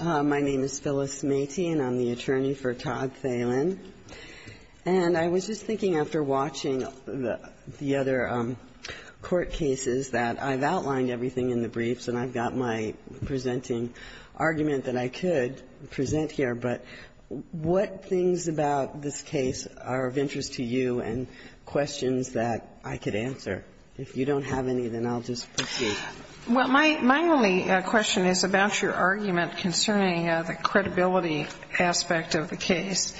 My name is Phyllis Matey, and I'm the attorney for Todd Thelen. And I was just thinking, after watching the other court cases, that I've outlined everything in the briefs, and I've got my presenting argument that I could present here, but what things about this case are of interest to you and questions that I could answer? If you don't have any, then I'll just proceed. Well, my only question is about your argument concerning the credibility aspect of the case.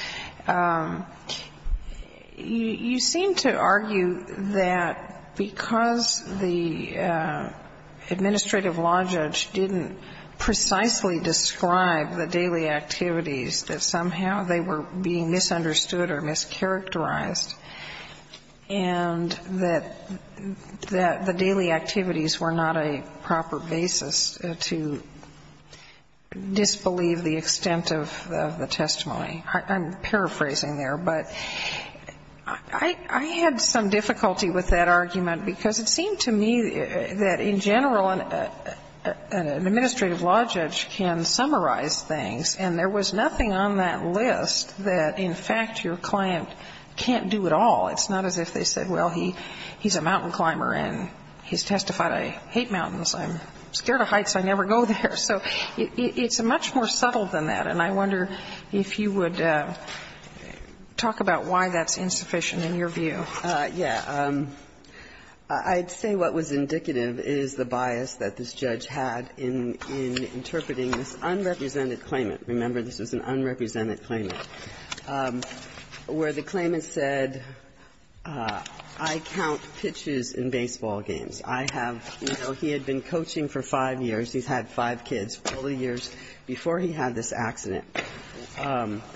You seem to argue that because the administrative law judge didn't precisely describe the daily activities, that somehow they were being misunderstood or mischaracterized, and that the daily activities were not a proper basis to disbelieve the extent of the testimony. I'm paraphrasing there, but I had some difficulty with that argument, because it seemed to me that in general, an administrative law judge can summarize things, and there was nothing on that list that in fact your client can't do at all. It's not as if they said, well, he's a mountain climber, and he's testified, I hate mountains. I'm scared of heights. I never go there. So it's much more subtle than that. And I wonder if you would talk about why that's insufficient in your view. Yeah. I'd say what was indicative is the bias that this judge had in interpreting this unrepresented claimant. Remember, this is an unrepresented claimant. Where the claimant said, I count pitches in baseball games. I have, you know, he had been coaching for five years. He's had five kids. All the years before he had this accident,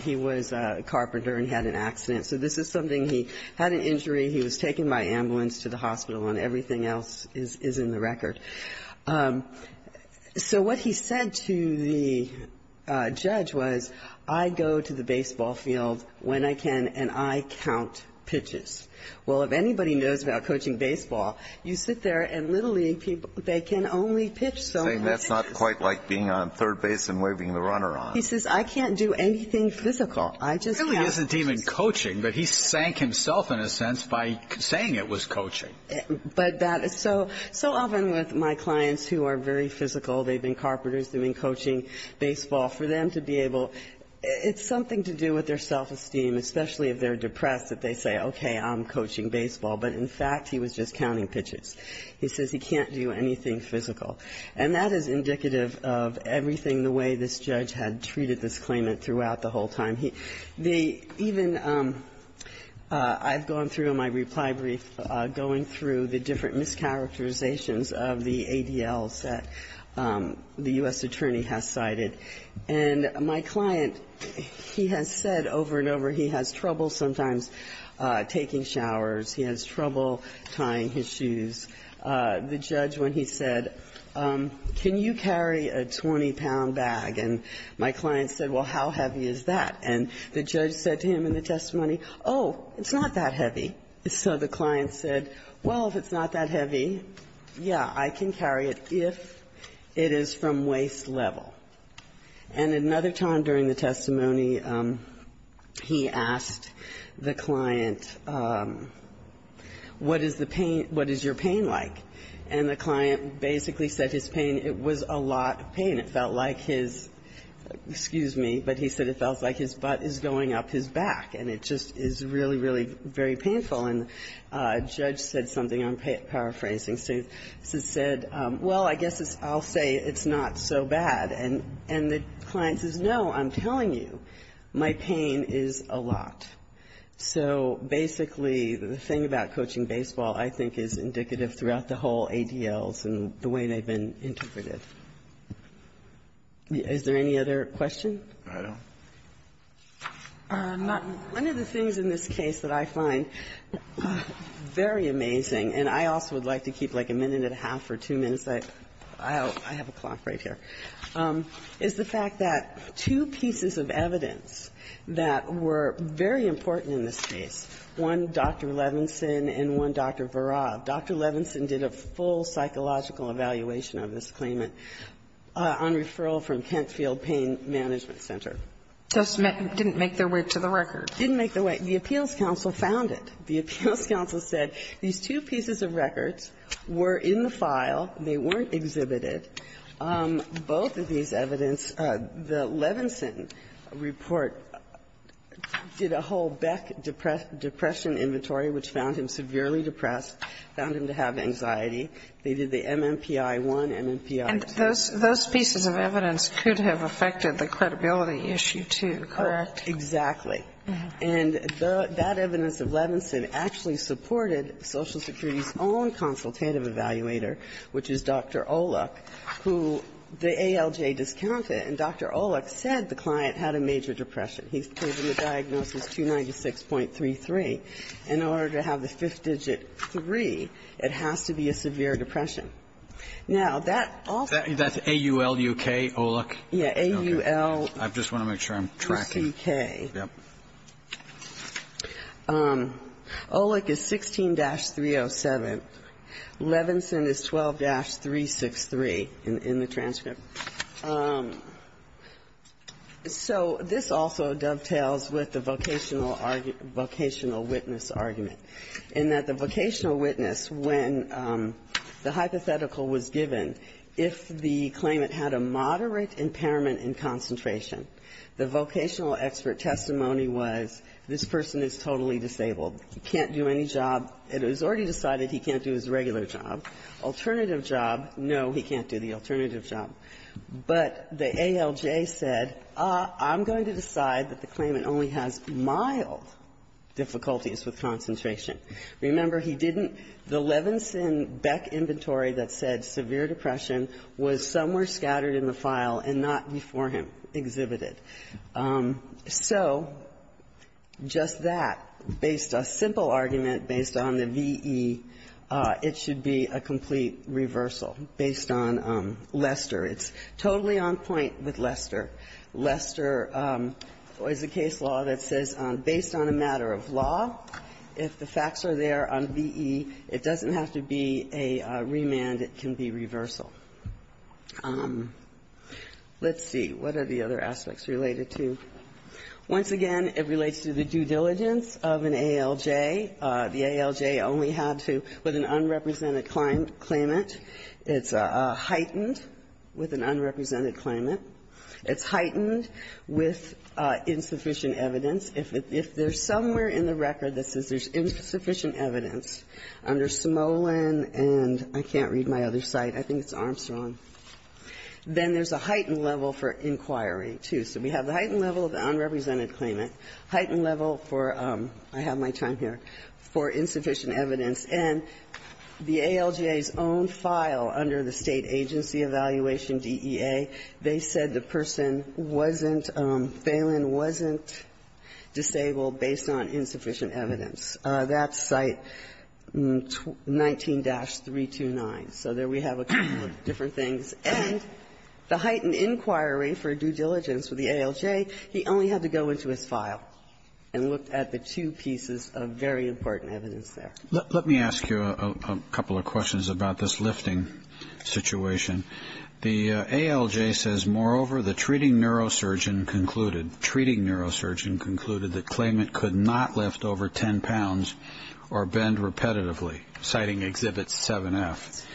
he was a carpenter and he had an accident. So this is something he had an injury, he was taken by ambulance to the hospital, and everything else is in the record. So what he said to the judge was, I go to the baseball field when I can, and I count pitches. Well, if anybody knows about coaching baseball, you sit there and literally they can only pitch so many pitches. Saying that's not quite like being on third base and waving the runner on. He says, I can't do anything physical. I just count pitches. He really isn't even coaching, but he sank himself in a sense by saying it was coaching. But that is so often with my clients who are very physical, they've been carpenters, doing coaching baseball, for them to be able, it's something to do with their self-esteem, especially if they're depressed, that they say, okay, I'm coaching baseball. But in fact, he was just counting pitches. He says he can't do anything physical. And that is indicative of everything the way this judge had treated this claimant throughout the whole time. He even, I've gone through in my reply brief, going through the different mischaracterizations of the ADLs that the U.S. Attorney's Office attorney has cited. And my client, he has said over and over, he has trouble sometimes taking showers. He has trouble tying his shoes. The judge, when he said, can you carry a 20-pound bag, and my client said, well, how heavy is that? And the judge said to him in the testimony, oh, it's not that heavy. So the client said, well, if it's not that heavy, yeah, I can carry it if it is from the waist level. And another time during the testimony, he asked the client, what is the pain – what is your pain like? And the client basically said his pain, it was a lot of pain. It felt like his – excuse me, but he said it felt like his butt is going up his back, and it just is really, really very painful. And the judge said something, I'm paraphrasing, said, well, I guess I'll say it's not so bad. And the client says, no, I'm telling you, my pain is a lot. So basically, the thing about coaching baseball, I think, is indicative throughout the whole ADLs and the way they've been interpreted. Is there any other question? One of the things in this case that I find very amazing, and I also would like to point out right here, is the fact that two pieces of evidence that were very important in this case, one Dr. Levinson and one Dr. Virab. Dr. Levinson did a full psychological evaluation of this claimant on referral from Kent Field Pain Management Center. So it didn't make their way to the record. It didn't make their way. The appeals counsel found it. The appeals counsel said these two pieces of records were in the file, they weren't exhibited. Both of these evidence, the Levinson report did a whole Beck depression inventory which found him severely depressed, found him to have anxiety. They did the MMPI-1, MMPI-2. And those pieces of evidence could have affected the credibility issue, too, correct? Exactly. And that evidence of Levinson actually supported Social Security's own consultative evaluator, which is Dr. Olick, who the ALJ discounted, and Dr. Olick said the client had a major depression. He gave him the diagnosis 296.33. In order to have the fifth digit 3, it has to be a severe depression. Now, that also That's AULUK, Olick? Yeah, AULUK. I just want to make sure I'm tracking. Yep. Olick is 16-307. Levinson is 12-363 in the transcript. So this also dovetails with the vocational argument, vocational witness argument, in that the vocational witness, when the hypothetical was given, if the claimant had a moderate impairment in concentration, the vocational expert testimony was this person is totally disabled. He can't do any job. It was already decided he can't do his regular job. Alternative job, no, he can't do the alternative job. But the ALJ said, I'm going to decide that the claimant only has mild difficulties with concentration. Remember, he didn't the Levinson-Beck inventory that said severe depression was somewhere scattered in the file and not before him exhibited. So just that, based on a simple argument, based on the V.E., it should be a complete reversal based on Lester. It's totally on point with Lester. Lester is a case law that says based on a matter of law, if the facts are there on V.E., it doesn't have to be a remand. It can be reversal. Let's see. What are the other aspects related to? Once again, it relates to the due diligence of an ALJ. The ALJ only had to, with an unrepresented claimant, it's heightened with an unrepresented claimant. It's heightened with insufficient evidence. If there's somewhere in the record that says there's insufficient evidence under Smolin and I can't read my other site, I think it's Armstrong, then there's a heightened level for inquiry, too. So we have the heightened level of the unrepresented claimant, heightened level for, I have my time here, for insufficient evidence, and the ALJ's own file under the State Agency Evaluation DEA, they said the person wasn't, Phelan wasn't disabled based on insufficient evidence. That's site 19-329. So there we have a couple of different things. And the heightened inquiry for due diligence with the ALJ, he only had to go into his file and look at the two pieces of very important evidence there. Let me ask you a couple of questions about this lifting situation. The ALJ says, moreover, the treating neurosurgeon concluded, the treating neurosurgeon concluded that claimant could not lift over 10 pounds or bend repetitively, citing Exhibit 7-F.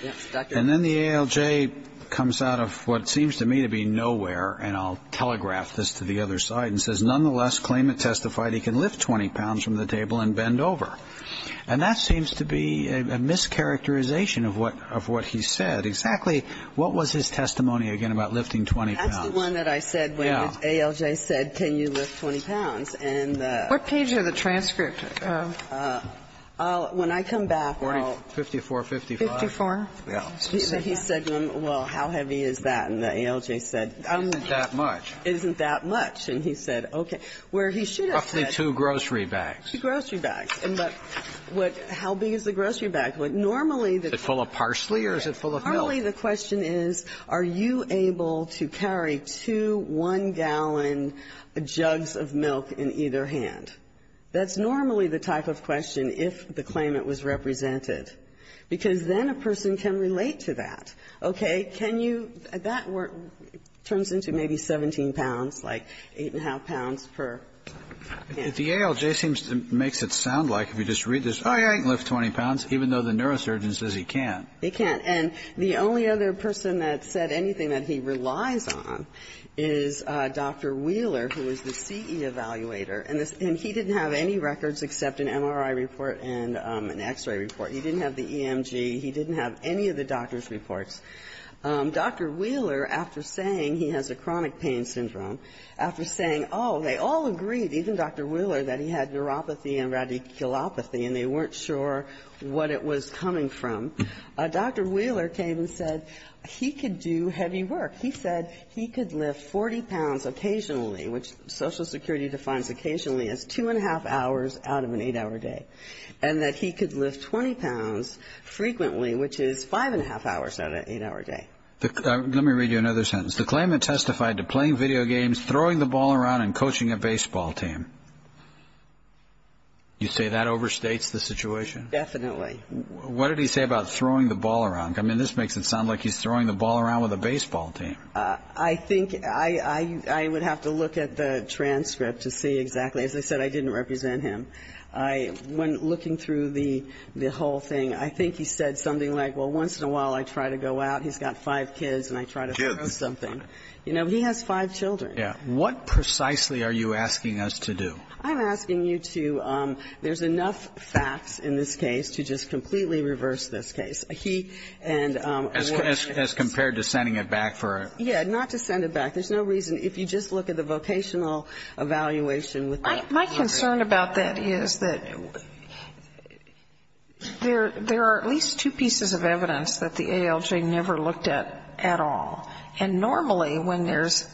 And then the ALJ comes out of what seems to me to be nowhere, and I'll telegraph this to the other side, and says, nonetheless, claimant testified he can lift 20 pounds from the table and bend over. And that seems to be a mischaracterization of what he said. Exactly what was his testimony, again, about lifting 20 pounds? That's the one that I said when the ALJ said, can you lift 20 pounds? And the ---- What page of the transcript did that go? When I come back, I'll ---- 5455. 54? Yeah. He said, well, how heavy is that? And the ALJ said, it isn't that much. It isn't that much. And he said, okay. Where he should have said ---- Roughly two grocery bags. Two grocery bags. And but what ---- how big is the grocery bag? Normally, the ---- Is it full of parsley or is it full of milk? Normally, the question is, are you able to carry two 1-gallon jugs of milk in either hand? That's normally the type of question if the claimant was represented, because then a person can relate to that. Okay. Can you ---- that were ---- turns into maybe 17 pounds, like 8 1⁄2 pounds per hand. The ALJ seems to make it sound like if you just read this, oh, he can lift 20 pounds, even though the neurosurgeon says he can't. He can't. And the only other person that said anything that he relies on is Dr. Wheeler, who is the CE evaluator. And he didn't have any records except an MRI report and an X-ray report. He didn't have the EMG. He didn't have any of the doctor's reports. Dr. Wheeler, after saying he has a chronic pain syndrome, after saying, oh, they all agreed, even Dr. Wheeler, that he had neuropathy and radiculopathy, and they weren't sure what it was coming from. Dr. Wheeler came and said he could do heavy work. He said he could lift 40 pounds occasionally, which Social Security defines occasionally as 2 1⁄2 hours out of an 8-hour day, and that he could lift 20 pounds frequently, which is 5 1⁄2 hours out of an 8-hour day. Let me read you another sentence. The claimant testified to playing video games, throwing the ball around, and coaching a baseball team. You say that overstates the situation? Definitely. What did he say about throwing the ball around? I mean, this makes it sound like he's throwing the ball around with a baseball team. I think I would have to look at the transcript to see exactly. As I said, I didn't represent him. When looking through the whole thing, I think he said something like, well, once in a while, I try to go out. He's got five kids, and I try to throw something. You know, he has five children. Yeah. What precisely are you asking us to do? I'm asking you to, there's enough facts in this case to just completely reverse this case. He, and, um, As compared to sending it back for a Yeah, not to send it back. There's no reason. If you just look at the vocational evaluation with I, my concern about that is that there, there are at least two pieces of evidence that the ALJ never looked at at all. And normally, when there's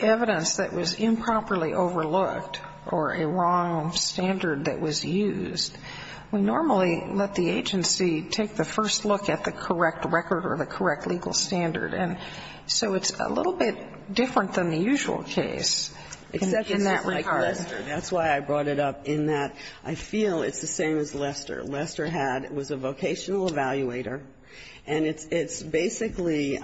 evidence that was improperly overlooked or a wrong standard that was used, we normally let the agency take the first look at the correct record or the correct legal standard. And so it's a little bit different than the usual case in that regard. That's why I brought it up, in that I feel it's the same as Lester. Lester had, was a vocational evaluator. And it's basically,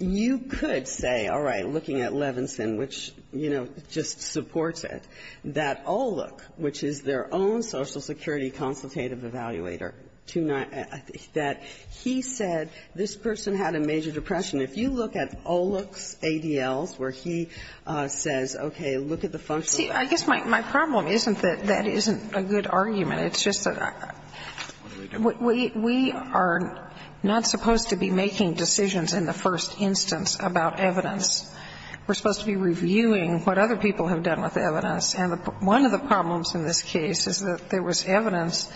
you could say, all right, looking at Levinson, which, you know, just supports it, that Olook, which is their own social security consultative evaluator, that he said this person had a major depression. If you look at Olook's ADLs, where he says, okay, look at the function See, I guess my problem isn't that that isn't a good argument. It's just that we are not supposed to be making decisions in the first instance about evidence. We're supposed to be reviewing what other people have done with evidence. And one of the problems in this case is that there was evidence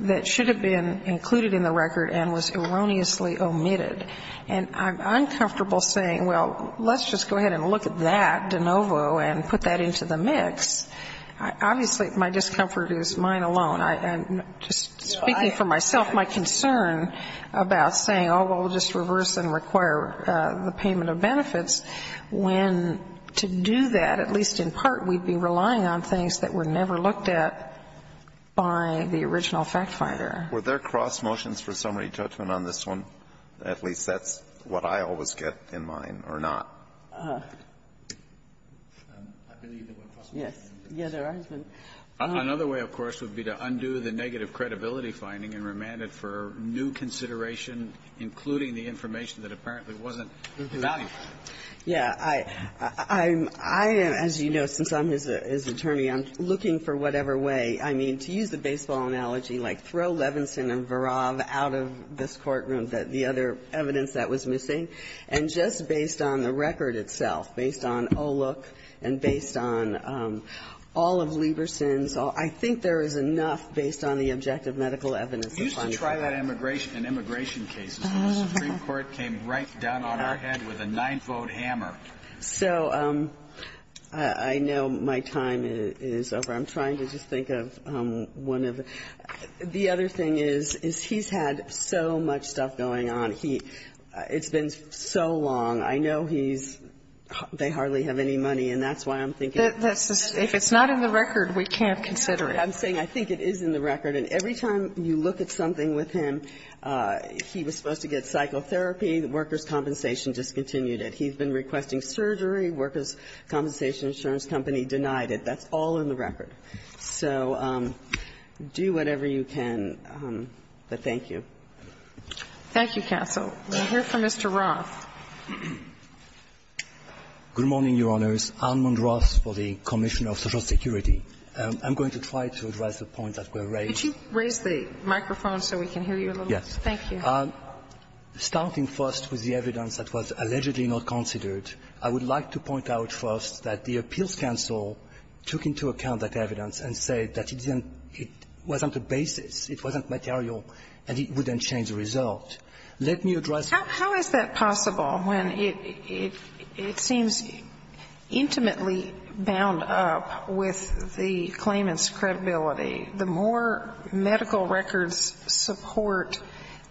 that should have been included in the record and was erroneously omitted. And I'm uncomfortable saying, well, let's just go ahead and look at that de novo and put that into the mix. Obviously, my discomfort is mine alone. And just speaking for myself, my concern about saying, oh, well, we'll just reverse and require the payment of benefits, when to do that, at least in part, we'd be relying on things that were never looked at by the original factfinder. Alito, were there cross motions for summary judgment on this one? At least that's what I always get in mind, or not. I believe there were cross motions. Yes. Yeah, there has been. Another way, of course, would be to undo the negative credibility finding and remand it for new consideration, including the information that apparently wasn't valuable. Yeah. I'm as you know, since I'm his attorney, I'm looking for whatever way. I mean, to use the baseball analogy, like throw Levinson and Varave out of this courtroom, the other evidence that was missing. And just based on the record itself, based on OLOK and based on all of Leverson's, I think there is enough based on the objective medical evidence. We used to try that in immigration cases, but the Supreme Court came right down on our head with a nine-fold hammer. So I know my time is over. I'm trying to just think of one of the other thing is, is he's had so much stuff going on, it's been so long, I know he's, they hardly have any money, and that's why I'm thinking. If it's not in the record, we can't consider it. I'm saying I think it is in the record. And every time you look at something with him, he was supposed to get psychotherapy, the workers' compensation discontinued it. He's been requesting surgery, workers' compensation insurance company denied it. That's all in the record. So do whatever you can, but thank you. Thank you, counsel. We'll hear from Mr. Roth. Good morning, Your Honors. Armand Roth for the Commissioner of Social Security. I'm going to try to address the point that was raised. Could you raise the microphone so we can hear you a little? Yes. Thank you. Starting first with the evidence that was allegedly not considered, I would like to point out first that the appeals counsel took into account that evidence and said that it wasn't a basis, it wasn't material, and it wouldn't change the result. Let me address the point. How is that possible when it seems intimately bound up with the claimant's credibility? The more medical records support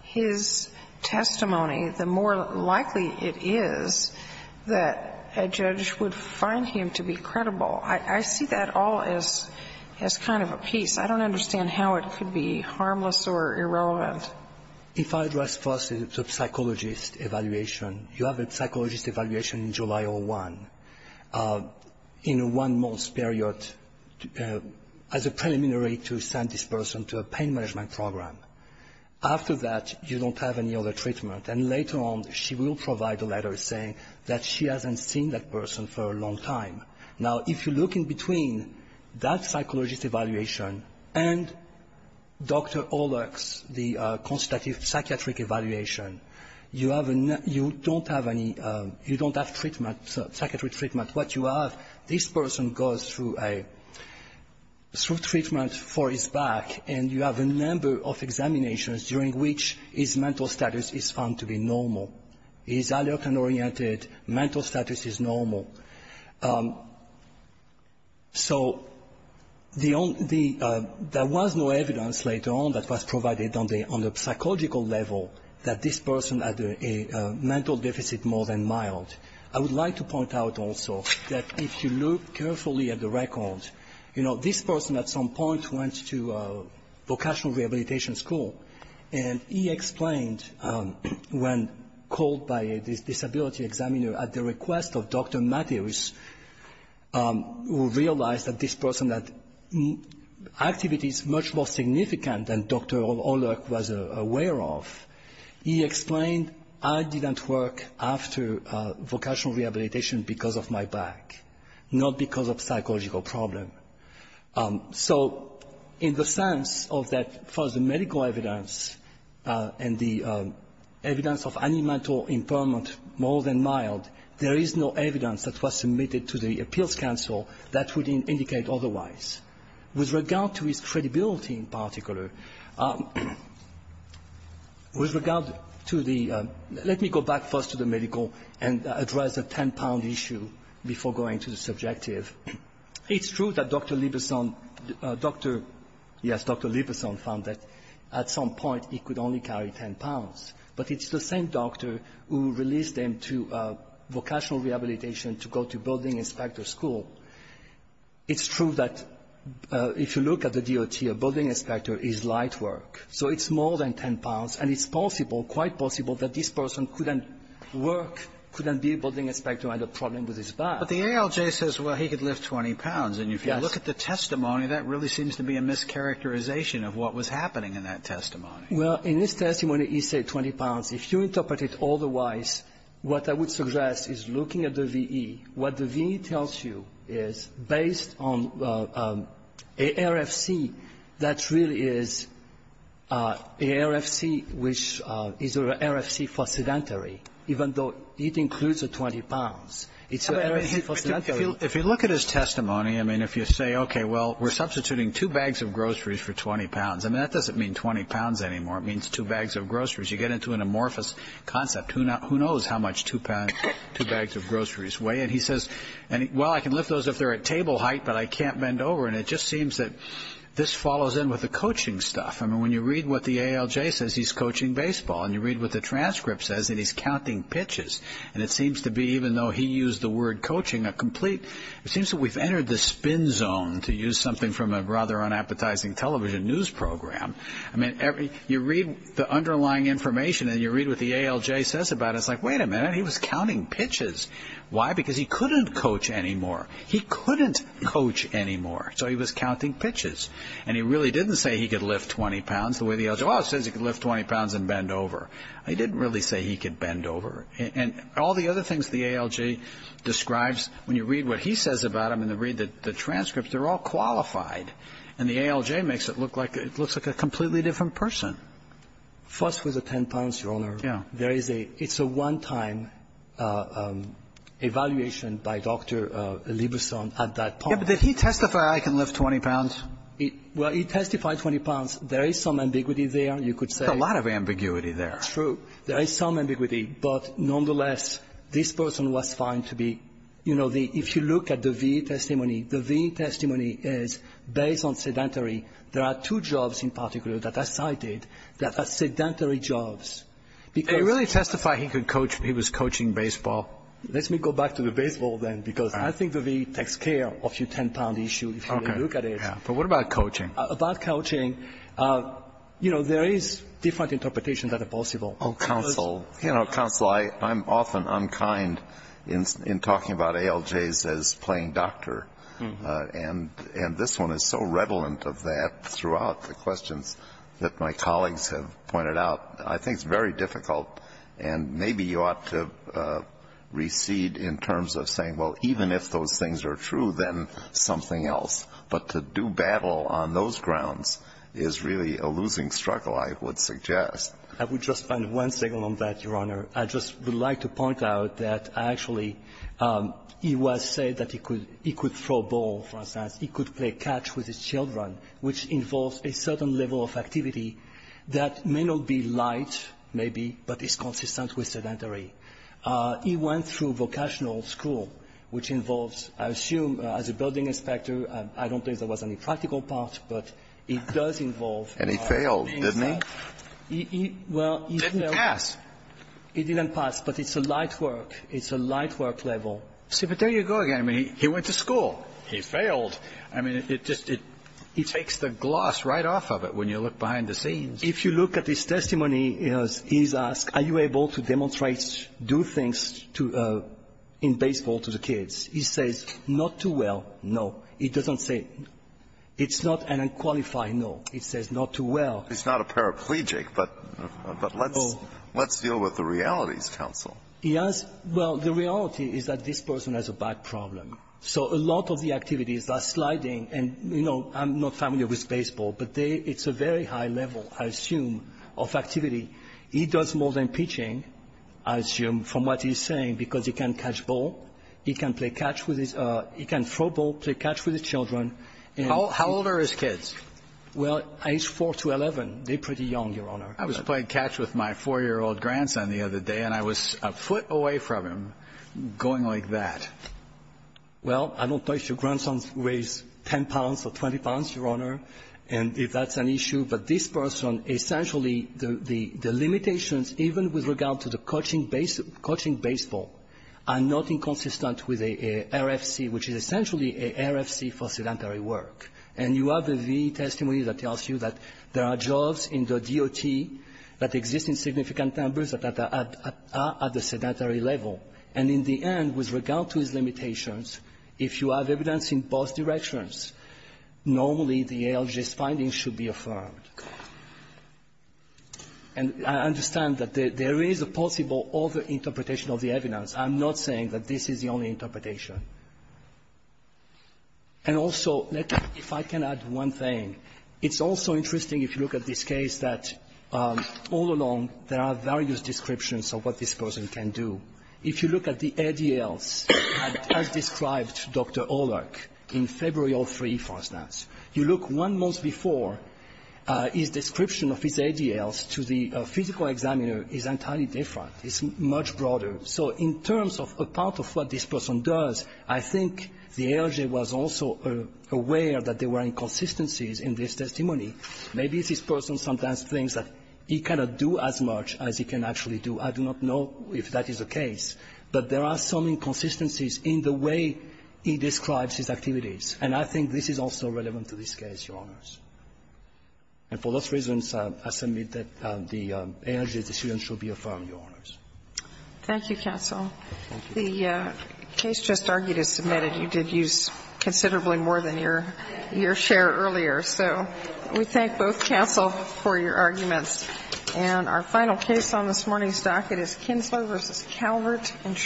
his testimony, the more likely it is that a judge would find him to be credible. I see that all as kind of a piece. I don't understand how it could be harmless or irrelevant. If I address first the psychologist evaluation, you have a psychologist evaluation in July of 2001, in one month's period, as a preliminary to send this person to a pain management program. After that, you don't have any other treatment. And later on, she will provide a letter saying that she hasn't seen that person for a long time. Now, if you look in between that psychologist evaluation and Dr. Olex, the constructive psychiatric evaluation, you don't have any, you don't have treatment, psychiatric treatment. What you have, this person goes through treatment for his back, and you have a number of examinations during which his mental status is found to be normal. He's alert and oriented, mental status is normal. So, the only, there was no evidence later on that was provided on the psychological level that this person had a mental deficit more than mild. I would like to point out also that if you look carefully at the record, you know, this person at some point went to vocational rehabilitation school, and he explained when called by a disability examiner at the request of Dr. Matthews, who realized that this person had activities much more significant than Dr. Olex was aware of. He explained, I didn't work after vocational rehabilitation because of my back, not because of psychological problem. So, in the sense of that, for the medical evidence and the evidence of any mental impairment more than mild, there is no evidence that was submitted to the appeals council that would indicate otherwise. With regard to his credibility in particular, with regard to the, let me go back first to the medical and address the 10-pound issue before going to the subjective. It's true that Dr. Libousson, Dr. Libousson found that at some point he could only carry 10 pounds, but it's the same doctor who released him to vocational rehabilitation to go to building inspector school. It's true that if you look at the DOT, a building inspector is light work. So, it's more than 10 pounds, and it's possible, quite possible, that this person couldn't work, couldn't be a building inspector, had a problem with his back. But the ALJ says, well, he could lift 20 pounds. And if you look at the testimony, that really seems to be a mischaracterization of what was happening in that testimony. Well, in this testimony, he said 20 pounds. If you interpret it otherwise, what I would suggest is looking at the VE. What the VE tells you is, based on an RFC, that really is an RFC which is an RFC for sedentary, even though it includes a 20 pounds. If you look at his testimony, I mean, if you say, okay, well, we're substituting two bags of groceries for 20 pounds. I mean, that doesn't mean 20 pounds anymore. It means two bags of groceries. You get into an amorphous concept. Who knows how much two bags of groceries weigh? And he says, well, I can lift those if they're at table height, but I can't bend over, and it just seems that this follows in with the coaching stuff. I mean, when you read what the ALJ says, he's coaching baseball. And you read what the transcript says, and he's counting pitches. And it seems to be, even though he used the word coaching, it seems that we've entered the spin zone, to use something from a rather unappetizing television news program. I mean, you read the underlying information, and you read what the ALJ says about it. It's like, wait a minute. He was counting pitches. Why? Because he couldn't coach anymore. He couldn't coach anymore, so he was counting pitches. And he really didn't say he could lift 20 pounds the way the ALJ says he could lift 20 pounds and bend over. He didn't really say he could bend over. And all the other things the ALJ describes, when you read what he says about him and you read the transcripts, they're all qualified. And the ALJ makes it look like it looks like a completely different person. First, with the 10 pounds, Your Honor, there is a one-time evaluation by Dr. Libouson at that point. Yeah, but did he testify, I can lift 20 pounds? Well, he testified 20 pounds. There is some ambiguity there, you could say. There's a lot of ambiguity there. That's true. There is some ambiguity. But nonetheless, this person was found to be, you know, if you look at the VA testimony, the VA testimony is based on sedentary. There are two jobs in particular that are cited that are sedentary jobs. Did he really testify he was coaching baseball? Let me go back to the baseball then, because I think the VA takes care of your 10 pound issue if you look at it. But what about coaching? About coaching, you know, there is different interpretation that are possible. You know, Counsel, I'm often unkind in talking about ALJs as playing doctor. And this one is so relevant of that throughout the questions that my colleagues have pointed out. I think it's very difficult. And maybe you ought to recede in terms of saying, well, even if those things are true, then something else. But to do battle on those grounds is really a losing struggle, I would suggest. I would just find one signal on that, Your Honor. I just would like to point out that actually he was said that he could throw a ball, for instance. He could play catch with his children, which involves a certain level of activity that may not be light, maybe, but is consistent with sedentary. He went through vocational school, which involves, I assume, as a building inspector, I don't think there was any practical part, but it does involve. And he failed, didn't he? Well, he didn't pass. He didn't pass, but it's a light work. It's a light work level. See, but there you go again. I mean, he went to school. He failed. I mean, it just, it takes the gloss right off of it when you look behind the scenes. If you look at his testimony, he's asked, are you able to demonstrate, do things in baseball to the kids? He says, not too well, no. He doesn't say, it's not an unqualified, no. He says, not too well. He's not a paraplegic, but let's deal with the realities, counsel. Yes. Well, the reality is that this person has a back problem. So a lot of the activities are sliding. And, you know, I'm not familiar with baseball. But it's a very high level, I assume, of activity. He does more than pitching, I assume, from what he's saying, because he can catch ball, he can play catch with his – he can throw ball, play catch with his children. How old are his kids? Well, age 4 to 11, they're pretty young, Your Honor. I was playing catch with my 4-year-old grandson the other day, and I was a foot away from him, going like that. Well, I don't know if your grandson weighs 10 pounds or 20 pounds, Your Honor, and if that's an issue. But this person, essentially, the limitations, even with regard to the coaching base – coaching baseball, are not inconsistent with an RFC, which is essentially an RFC for sedentary work. And you have the V testimony that tells you that there are jobs in the DOT that exist in significant numbers that are at the sedentary level. And in the end, with regard to his limitations, if you have evidence in both directions, normally the ALJ's findings should be affirmed. And I understand that there is a possible over-interpretation of the evidence. I'm not saying that this is the only interpretation. And also, if I can add one thing, it's also interesting, if you look at this case, that all along, there are various descriptions of what this person can do. If you look at the ADLs, as described by Dr. Olark in February 2003, for instance, you look one month before, his description of his ADLs to the physical examiner is entirely different. It's much broader. So in terms of a part of what this person does, I think the ALJ was also aware that there were inconsistencies in this testimony. Maybe this person sometimes thinks that he cannot do as much as he can actually do. I do not know if that is the case. But there are some inconsistencies in the way he describes his activities. And I think this is also relevant to this case, Your Honors. And for those reasons, I submit that the ALJ's decision should be affirmed, Your Honors. Thank you, counsel. The case just argued is submitted. You did use considerably more than your share earlier. So we thank both counsel for your arguments. And our final case on this morning's docket is Kinslow v. Calvert Insurance.